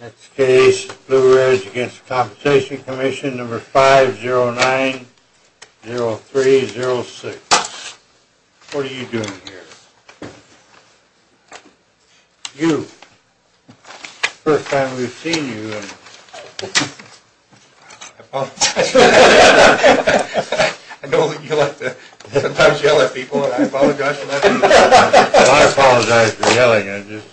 Next case, Blue Ridge v. The Compensation Commission, No. 5090306. What are you doing here? You, first time we've seen you. I know that you like to sometimes yell at people, and I apologize for that. I'm just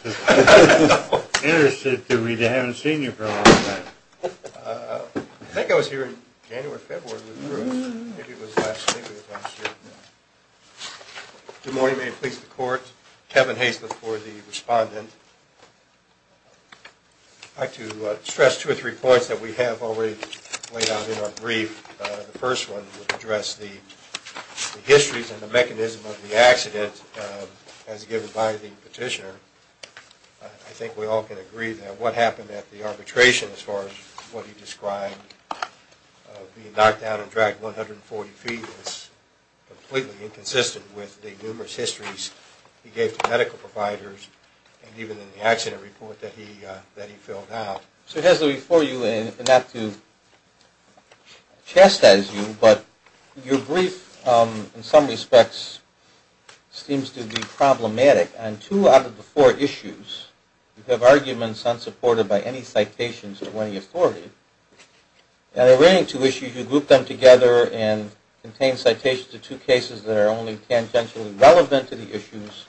interested to read. I haven't seen you for a long time. I think I was here in January, February. Good morning. May it please the Court. Kevin Hastliff for the respondent. I'd like to stress two or three points that we have already laid out in our brief. The first one would address the histories and the mechanism of the accident as given by the petitioner. I think we all can agree that what happened at the arbitration as far as what he described, being knocked down and dragged 140 feet, is completely inconsistent with the numerous histories he gave to medical providers and even in the accident report that he filled out. So here's the brief for you, and not to chastise you, but your brief in some respects seems to be problematic. On two out of the four issues, you have arguments unsupported by any citations or any authority. And the remaining two issues, you group them together and contain citations to two cases that are only tangentially relevant to the issues,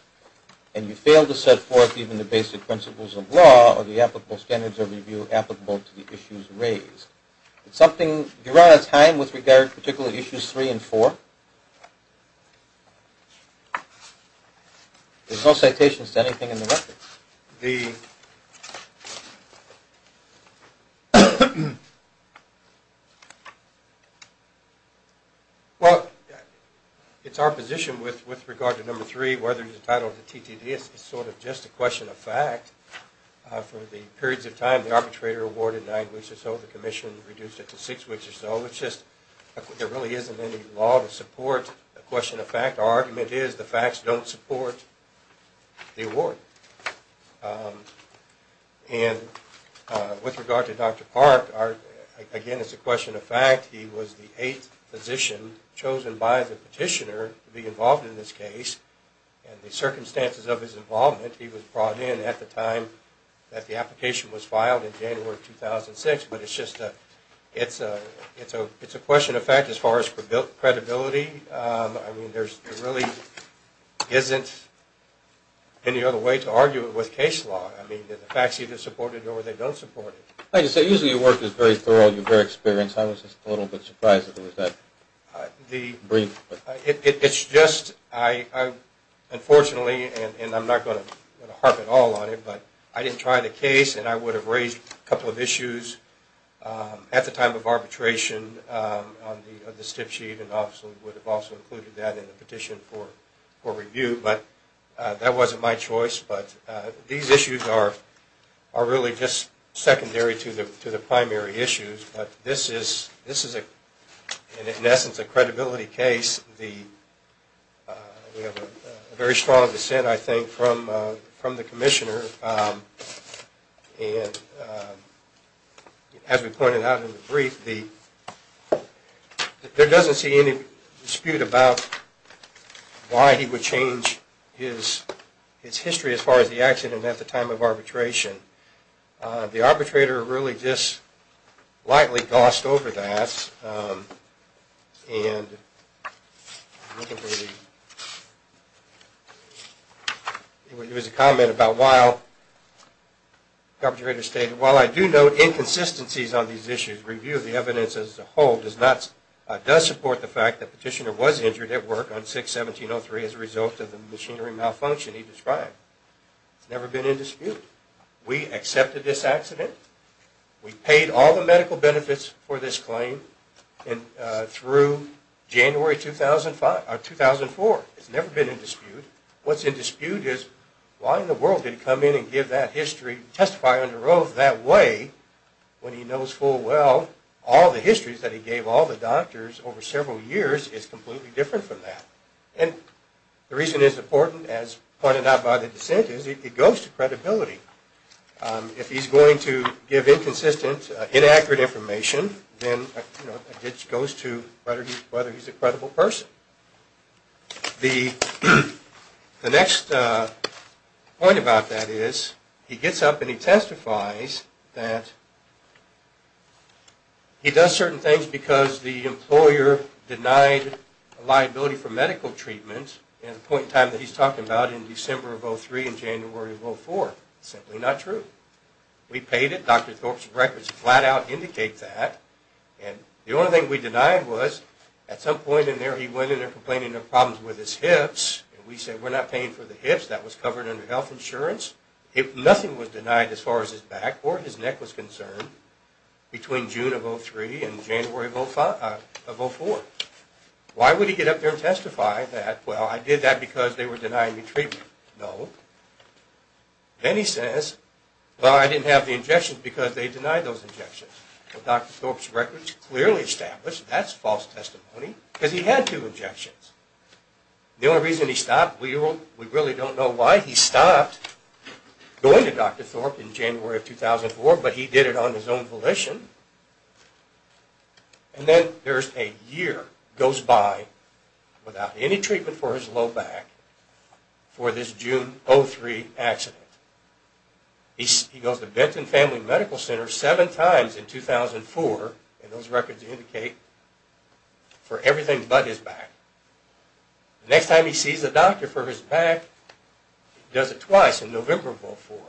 and you fail to set forth even the basic principles of law or the applicable standards of review applicable to the issues raised. Do you run out of time with regard to particular issues three and four? There's no citations to anything in the record. Well, it's our position with regard to number three, whether it's the title of the TTD, it's sort of just a question of fact. For the periods of time the arbitrator awarded nine weeks or so, the commission reduced it to six weeks or so. There really isn't any law to support the question of fact. Our argument is the facts don't support the award. And with regard to Dr. Park, again, it's a question of fact. He was the eighth physician chosen by the petitioner to be involved in this case, and the circumstances of his involvement, he was brought in at the time that the application was filed in January 2006, but it's just a question of fact as far as credibility. I mean, there really isn't any other way to argue it with case law. I mean, the facts either support it or they don't support it. Like you say, usually your work is very thorough and you're very experienced. I was just a little bit surprised that it was that brief. It's just I unfortunately, and I'm not going to harp at all on it, but I didn't try the case and I would have raised a couple of issues at the time of arbitration on the stiff sheet and obviously would have also included that in the petition for review, but that wasn't my choice. But these issues are really just secondary to the primary issues. But this is, in essence, a credibility case. We have a very strong dissent, I think, from the commissioner, and as we pointed out in the brief, there doesn't see any dispute about why he would change his history as far as the accident at the time of arbitration. The arbitrator really just lightly gossed over that and there was a comment about while the arbitrator stated, while I do note inconsistencies on these issues, review of the evidence as a whole does support the fact that the petitioner was injured at work on 6-1703 as a result of the machinery malfunction he described. It's never been in dispute. We accepted this accident. We paid all the medical benefits for this claim through January 2004. It's never been in dispute. What's in dispute is why in the world did he come in and give that history and testify under oath that way when he knows full well all the histories that he gave all the doctors over several years is completely different from that. And the reason it's important, as pointed out by the dissent, is it goes to credibility. If he's going to give inconsistent, inaccurate information, then it goes to whether he's a credible person. The next point about that is he gets up and he testifies that he does certain things because the employer denied liability for medical treatment at a point in time that he's talking about in December of 2003 and January of 2004. It's simply not true. We paid it. Dr. Thorpe's records flat out indicate that. And the only thing we denied was at some point in there he went in there complaining of problems with his hips, and we said we're not paying for the hips. That was covered under health insurance. Nothing was denied as far as his back or his neck was concerned between June of 2003 and January of 2004. Why would he get up there and testify that, well, I did that because they were denying me treatment? No. Then he says, well, I didn't have the injections because they denied those injections. Dr. Thorpe's records clearly establish that's false testimony because he had two injections. The only reason he stopped, we really don't know why he stopped going to Dr. Thorpe in January of 2004, but he did it on his own volition. And then there's a year goes by without any treatment for his low back for this June of 2003 accident. He goes to Benton Family Medical Center seven times in 2004, and those records indicate, for everything but his back. The next time he sees a doctor for his back, he does it twice in November of 2004.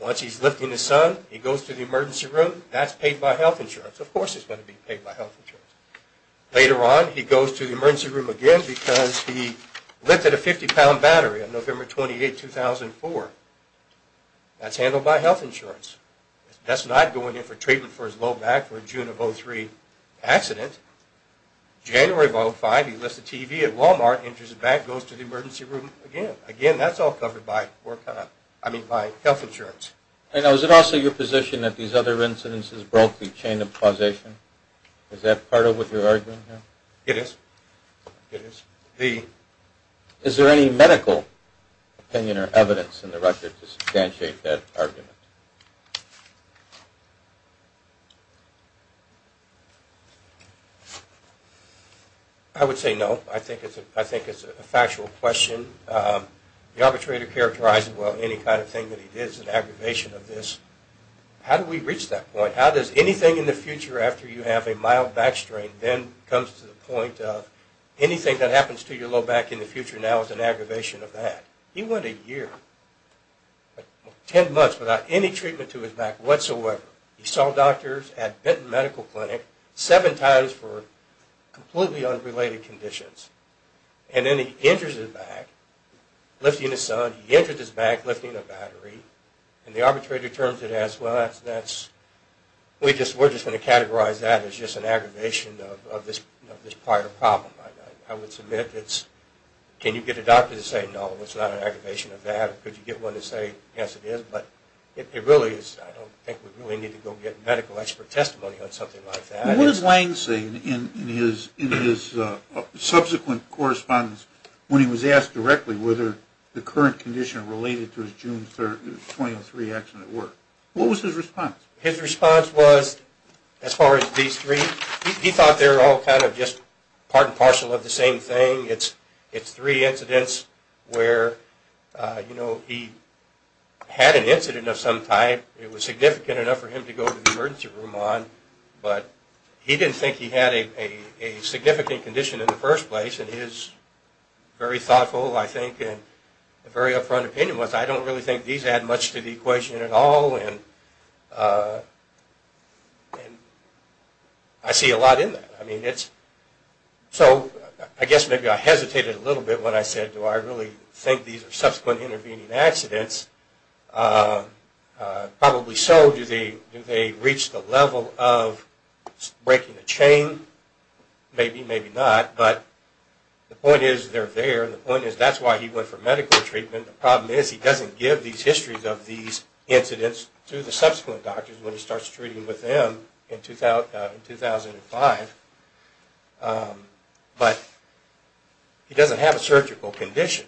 Once he's lifting his son, he goes to the emergency room. That's paid by health insurance. Of course it's going to be paid by health insurance. Later on, he goes to the emergency room again because he lifted a 50-pound battery on November 28, 2004. That's handled by health insurance. That's not going in for treatment for his low back for a June of 2003 accident. January of 2005, he lifts a TV at Walmart, injures his back, goes to the emergency room again. Again, that's all covered by health insurance. Now, is it also your position that these other incidences broke the chain of causation? Is that part of what you're arguing here? It is. Is there any medical opinion or evidence in the record to substantiate that argument? I would say no. I think it's a factual question. The arbitrator characterized it well. Any kind of thing that he did is an aggravation of this. How do we reach that point? How does anything in the future, after you have a mild back strain, then comes to the point of anything that happens to your low back in the future now is an aggravation of that? He went a year, 10 months, without any treatment to his back whatsoever. He saw doctors at Benton Medical Clinic seven times for completely unrelated conditions. And then he injures his back lifting his son. He injures his back lifting a battery. And the arbitrator terms it as well. We're just going to categorize that as just an aggravation of this prior problem. I would submit it's, can you get a doctor to say, no, it's not an aggravation of that? Could you get one to say, yes it is? But it really is, I don't think we really need to go get medical expert testimony on something like that. What does Lang say in his subsequent correspondence when he was asked directly whether the current condition related to his June 23 accident were? What was his response? His response was, as far as these three, he thought they were all kind of just part and parcel of the same thing. It's three incidents where, you know, he had an incident of some type. It was significant enough for him to go to the emergency room on. But he didn't think he had a significant condition in the first place. And his very thoughtful, I think, and very upfront opinion was, I don't really think these add much to the equation at all. And I see a lot in that. I mean, it's, so I guess maybe I hesitated a little bit when I said, do I really think these are subsequent intervening accidents? Probably so. Do they reach the level of breaking a chain? Maybe, maybe not. But the point is, they're there. The point is, that's why he went for medical treatment. The problem is, he doesn't give these histories of these incidents to the subsequent doctors when he starts treating with them in 2005. But he doesn't have a surgical condition.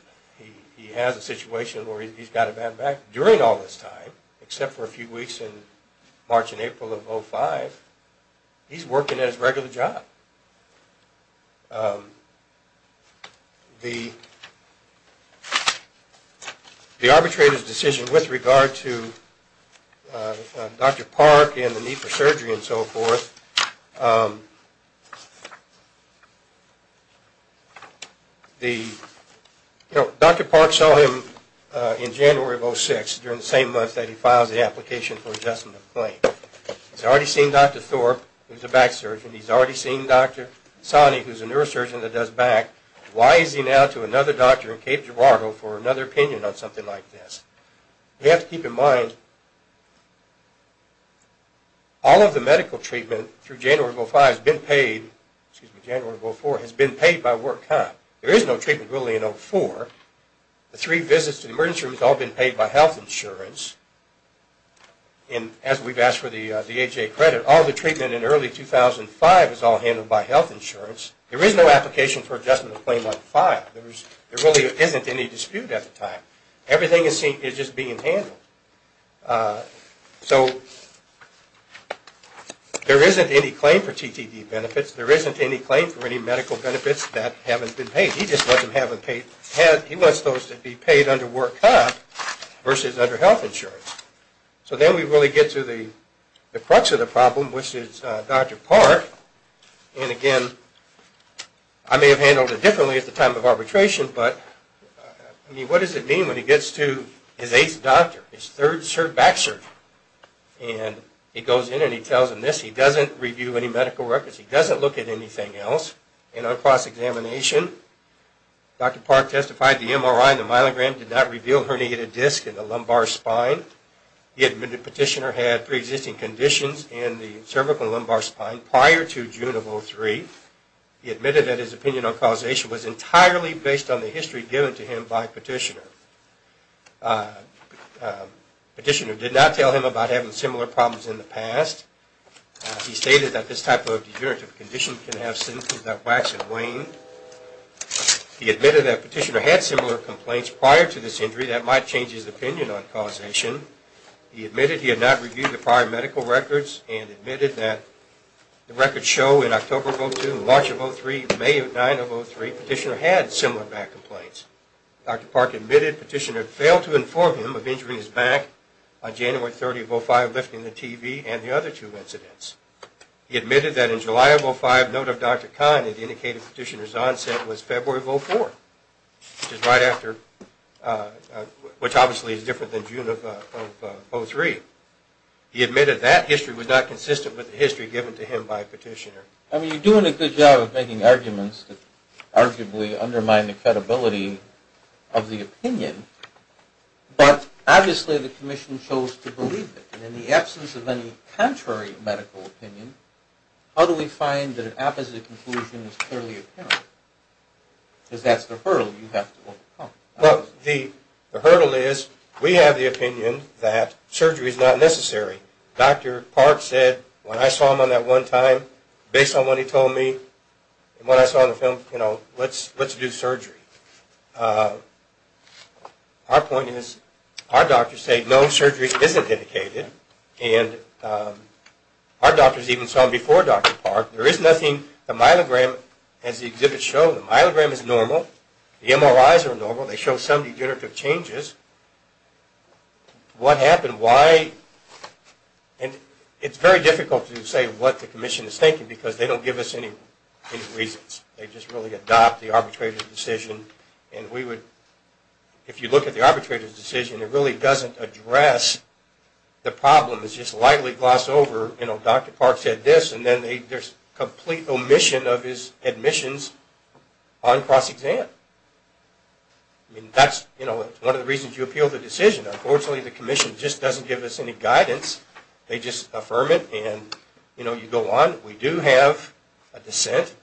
He has a situation where he's got a bad back. During all this time, except for a few weeks in March and April of 05, he's working at his regular job. The arbitrator's decision with regard to Dr. Park and the need for surgery and so forth, Dr. Park saw him in January of 06, during the same month that he files the application for adjustment of claim. He's already seen Dr. Thorpe, who's a back surgeon. He's already seen Dr. Sani, who's a neurosurgeon that does back. Why is he now to another doctor in Cape Girardeau for another opinion on something like this? You have to keep in mind, all of the medical treatment through January of 05 has been paid, excuse me, January of 04 has been paid by work time. There is no treatment really in 04. The three visits to the emergency room has all been paid by health insurance. As we've asked for the AHA credit, all the treatment in early 2005 is all handled by health insurance. There is no application for adjustment of claim on 05. There really isn't any dispute at the time. Everything is just being handled. So there isn't any claim for TTD benefits. There isn't any claim for any medical benefits that haven't been paid. He just wants them to be paid under work time versus under health insurance. So then we really get to the crux of the problem, which is Dr. Park. And again, I may have handled it differently at the time of arbitration, but what does it mean when he gets to his eighth doctor, his third back surgeon, and he goes in and he tells him this. He doesn't review any medical records. He doesn't look at anything else. In a cross-examination, Dr. Park testified the MRI and the myelogram did not reveal herniated disc in the lumbar spine. He admitted Petitioner had pre-existing conditions in the cervical and lumbar spine prior to June of 2003. He admitted that his opinion on causation was entirely based on the history given to him by Petitioner. Petitioner did not tell him about having similar problems in the past. He stated that this type of degenerative condition can have symptoms that wax and wane. He admitted that Petitioner had similar complaints prior to this injury that might change his opinion on causation. He admitted he had not reviewed the prior medical records and admitted that the records show in October of 2002 and March of 2003 and May of 1903, Petitioner had similar back complaints. Dr. Park admitted Petitioner failed to inform him of injuring his back on January 30, 2005, lifting the TV and the other two incidents. He admitted that in July of 2005, note of Dr. Kahn that indicated Petitioner's onset was February of 2004, which obviously is different than June of 2003. He admitted that history was not consistent with the history given to him by Petitioner. You're doing a good job of making arguments that arguably undermine the credibility of the opinion, but obviously the Commission chose to believe it. In the absence of any contrary medical opinion, how do we find that an opposite conclusion is clearly apparent? Because that's the hurdle you have to overcome. Well, the hurdle is we have the opinion that surgery is not necessary. Dr. Park said when I saw him on that one time, based on what he told me and what I saw in the film, you know, let's do surgery. Our point is our doctors say no surgery isn't indicated, and our doctors even saw him before Dr. Park. There is nothing. The myelogram, as the exhibit showed, the myelogram is normal. The MRIs are normal. They show some degenerative changes. What happened? Why? And it's very difficult to say what the Commission is thinking because they don't give us any reasons. They just really adopt the arbitrator's decision, and we would, if you look at the arbitrator's decision, it really doesn't address the problem. It's just lightly glossed over. You know, Dr. Park said this, and then there's complete omission of his admissions on cross-exam. I mean, that's, you know, one of the reasons you appeal the decision. Unfortunately, the Commission just doesn't give us any guidance. They just affirm it, and, you know, you go on. We do have a dissent.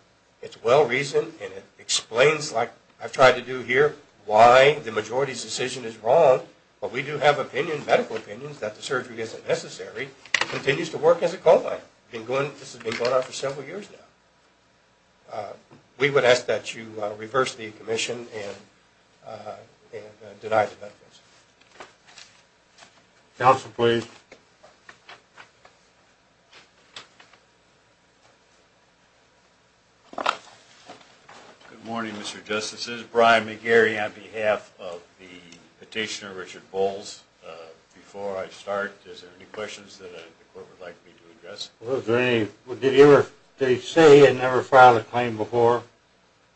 It's well-reasoned, and it explains, like I've tried to do here, why the majority's decision is wrong, but we do have opinions, medical opinions, that the surgery isn't necessary. It continues to work as a cold line. This has been going on for several years now. We would ask that you reverse the Commission and deny the medical exam. Counsel, please. Good morning, Mr. Justices. This is Brian McGarry on behalf of the petitioner Richard Bowles. Before I start, is there any questions that the court would like me to address? Did he say he had never filed a claim before?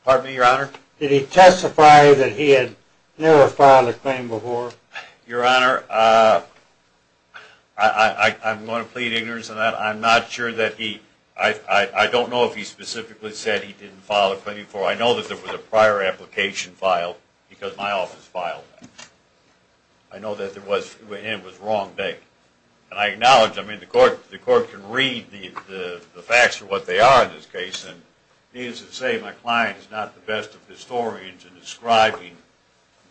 Pardon me, Your Honor? Did he testify that he had never filed a claim before? Your Honor, I'm going to plead ignorance on that. I'm not sure that he – I don't know if he specifically said he didn't file a claim before. I know that there was a prior application filed because my office filed that. I know that there was – and it was the wrong date. And I acknowledge, I mean, the court can read the facts for what they are in this case, and needless to say, my client is not the best of historians in describing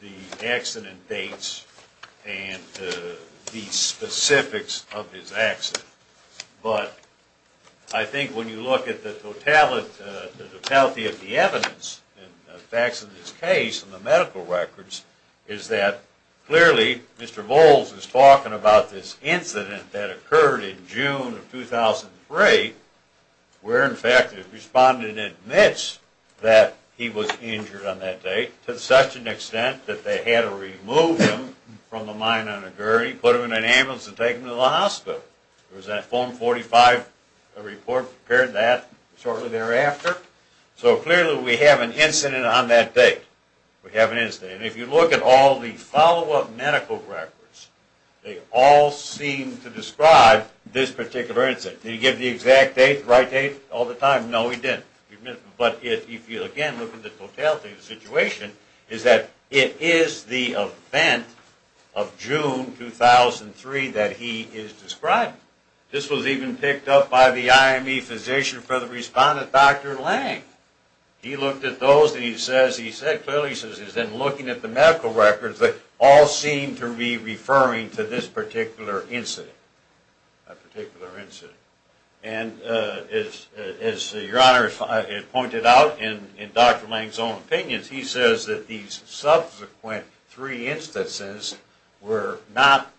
the accident dates and the specifics of his accident. But I think when you look at the totality of the evidence and the facts of this case and the medical records is that clearly Mr. Bowles is talking about this incident that occurred in June of 2003 where, in fact, the respondent admits that he was injured on that date to such an extent that they had to remove him from the mine on a gurney, put him in an ambulance, and take him to the hospital. There was that form 45 report prepared that shortly thereafter. So clearly we have an incident on that date. We have an incident. And if you look at all the follow-up medical records, they all seem to describe this particular incident. Did he give the exact date, the right date, all the time? No, he didn't. But if you, again, look at the totality of the situation, is that it is the event of June 2003 that he is describing. This was even picked up by the IME physician for the respondent, Dr. Lang. He looked at those and he said clearly he's been looking at the medical records, but all seem to be referring to this particular incident, that particular incident. And as Your Honor pointed out, in Dr. Lang's own opinions, he says that these subsequent three instances were not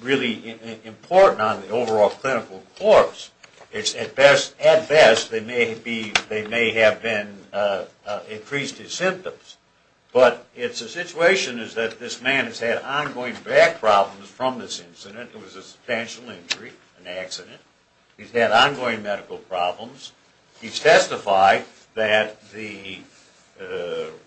really important on the overall clinical course. At best, they may have increased his symptoms. But the situation is that this man has had ongoing back problems from this incident. It was a substantial injury, an accident. He's had ongoing medical problems. He's testified that the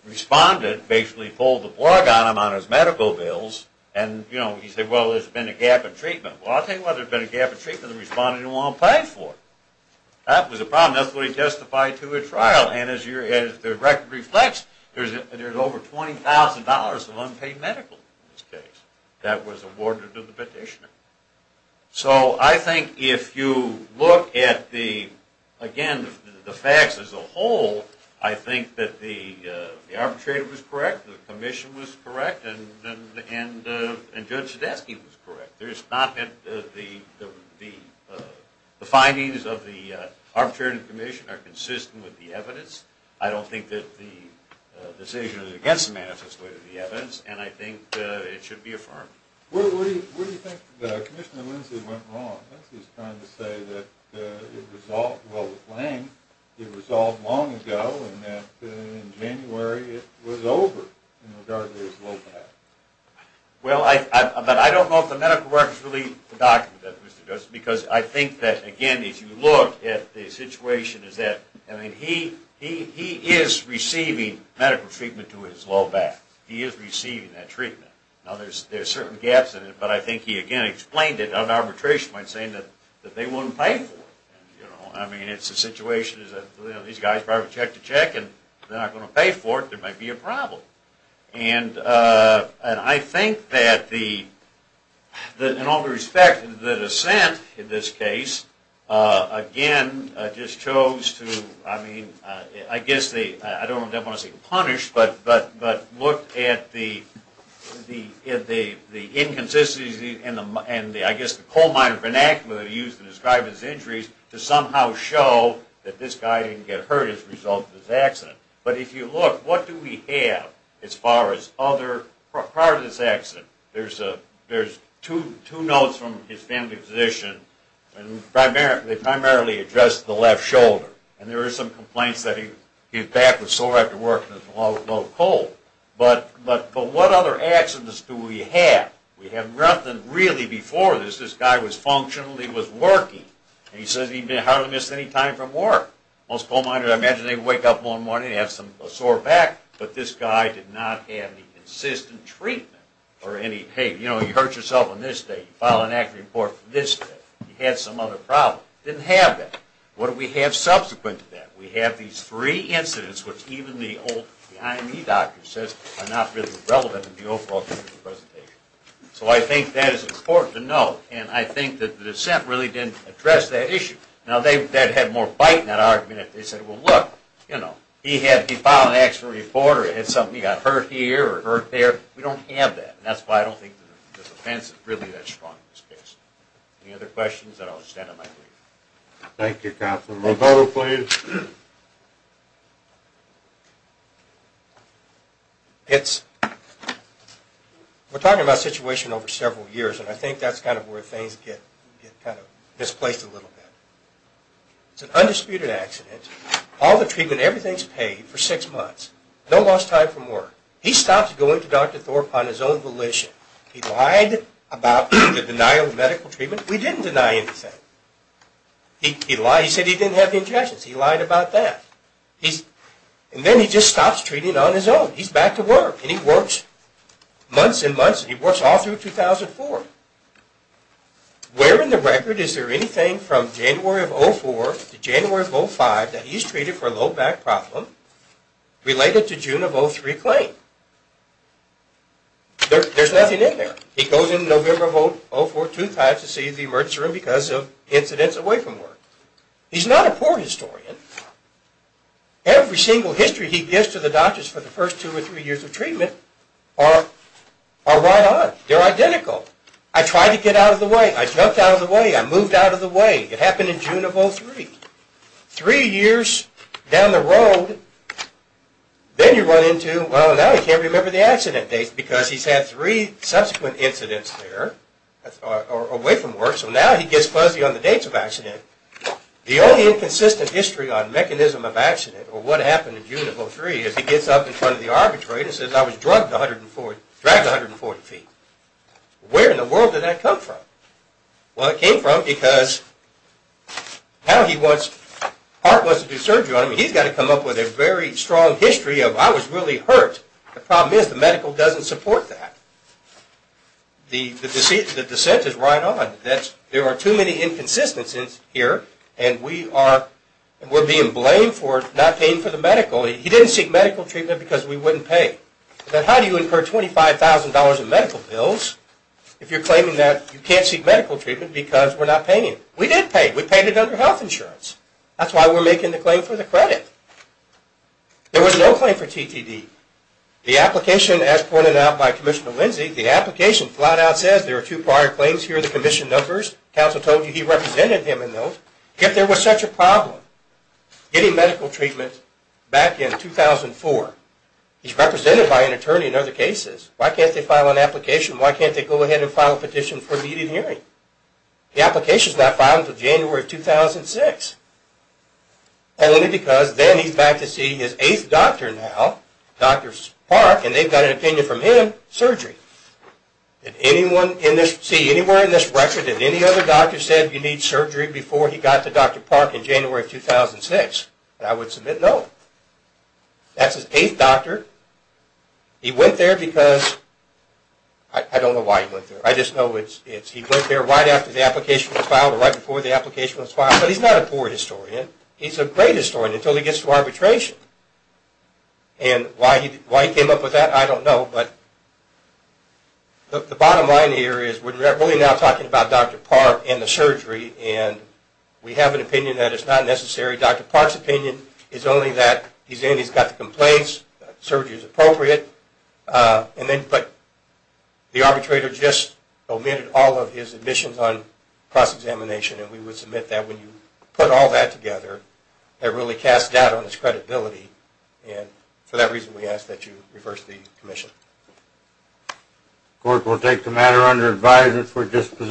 respondent basically pulled the plug on him on his medical bills. And he said, well, there's been a gap in treatment. Well, I'll tell you what, there's been a gap in treatment the respondent didn't want to pay for. That was a problem. That's what he testified to at trial. And as the record reflects, there's over $20,000 of unpaid medical in this case that was awarded to the petitioner. So I think if you look at the, again, the facts as a whole, I think that the arbitrator was correct, the commission was correct, and Judge Zdetsky was correct. The findings of the arbitration commission are consistent with the evidence. I don't think that the decision is against the manifesto of the evidence, and I think it should be affirmed. What do you think Commissioner Lindsay went wrong? Lindsay's trying to say that it resolved well with Lang, it resolved long ago, and that in January it was over in regard to his low back. Well, I don't know if the medical records really document that, Mr. Justice, because I think that, again, if you look at the situation, is that he is receiving medical treatment to his low back. He is receiving that treatment. Now, there's certain gaps in it, but I think he, again, explained it on arbitration by saying that they wouldn't pay for it. I mean, it's a situation that these guys probably check to check, and they're not going to pay for it, there might be a problem. And I think that, in all due respect, the dissent in this case, again, just chose to, I mean, I don't want to say punish, but look at the inconsistencies and I guess the coal miner vernacular used to describe his injuries to somehow show that this guy didn't get hurt as a result of this accident. But if you look, what do we have as far as other parts of this accident? There's two notes from his family physician, and they primarily address the left shoulder, and there are some complaints that his back was sore after work and there was no coal. But what other accidents do we have? We have nothing really before this. This guy was functional, he was working, and he says he hardly missed any time from work. Most coal miners, I imagine, they wake up one morning, they have a sore back, but this guy did not have any consistent treatment or any pain. You know, you hurt yourself on this day, you file an act report for this day, you had some other problem. Didn't have that. What do we have subsequent to that? We have these three incidents which even the old IME doctor says are not really relevant in the overall presentation. So I think that is important to note, and I think that the dissent really didn't address that issue. Now, they had more bite in that argument. They said, well, look, you know, he filed an actual report or he had something, he got hurt here or hurt there. We don't have that, and that's why I don't think this offense is really that strong in this case. Any other questions? Then I will stand on my leave. Thank you, Counselor. Roberto, please. We're talking about a situation over several years, and I think that's kind of where things get kind of displaced a little bit. It's an undisputed accident. All the treatment, everything is paid for six months. No lost time from work. He stopped going to Dr. Thorpe on his own volition. He lied about the denial of medical treatment. We didn't deny anything. He said he didn't have the injections. He lied about that. And then he just stops treating on his own. He's back to work, and he works months and months, and he works all through 2004. Where in the record is there anything from January of 04 to January of 05 that he's treated for a low back problem related to June of 03 claim? There's nothing in there. He goes in November of 04, 2005 to see the emergency room because of incidents away from work. He's not a poor historian. Every single history he gives to the doctors for the first two or three years of treatment are right on. They're identical. I tried to get out of the way. I jumped out of the way. I moved out of the way. It happened in June of 03. Three years down the road, then you run into, well, now he can't remember the accident dates because he's had three subsequent incidents there away from work, so now he gets fuzzy on the dates of accident. The only inconsistent history on mechanism of accident or what happened in June of 03 is he gets up in front of the arbitrator and says, I was drugged 140 feet. Where in the world did that come from? Well, it came from because now he wants to do surgery on him. He's got to come up with a very strong history of I was really hurt. The problem is the medical doesn't support that. The dissent is right on. There are too many inconsistencies here, and we're being blamed for not paying for the medical. He didn't seek medical treatment because we wouldn't pay. Then how do you incur $25,000 in medical bills if you're claiming that you can't seek medical treatment because we're not paying? We did pay. We paid it under health insurance. That's why we're making the claim for the credit. There was no claim for TTD. The application, as pointed out by Commissioner Lindsey, the application flat out says there are two prior claims. Here are the commission numbers. Counsel told you he represented him in those. Yet there was such a problem getting medical treatment back in 2004. He's represented by an attorney in other cases. Why can't they file an application? Why can't they go ahead and file a petition for immediate hearing? The application is not filed until January 2006, only because then he's back to see his eighth doctor now, Dr. Park, and they've got an opinion from him, surgery. Did anyone see anywhere in this record that any other doctor said you need surgery before he got to Dr. Park in January 2006? I would submit no. That's his eighth doctor. He went there because I don't know why he went there. I just know he went there right after the application was filed or right before the application was filed. But he's not a poor historian. He's a great historian until he gets to arbitration. Why he came up with that, I don't know. The bottom line here is we're really now talking about Dr. Park and the surgery, and we have an opinion that it's not necessary. Dr. Park's opinion is only that he's in, he's got the complaints, surgery is appropriate, but the arbitrator just omitted all of his admissions on cross-examination, and we would submit that when you put all that together, that really casts doubt on his credibility, and for that reason we ask that you reverse the commission. Of course, we'll take the matter under advisement.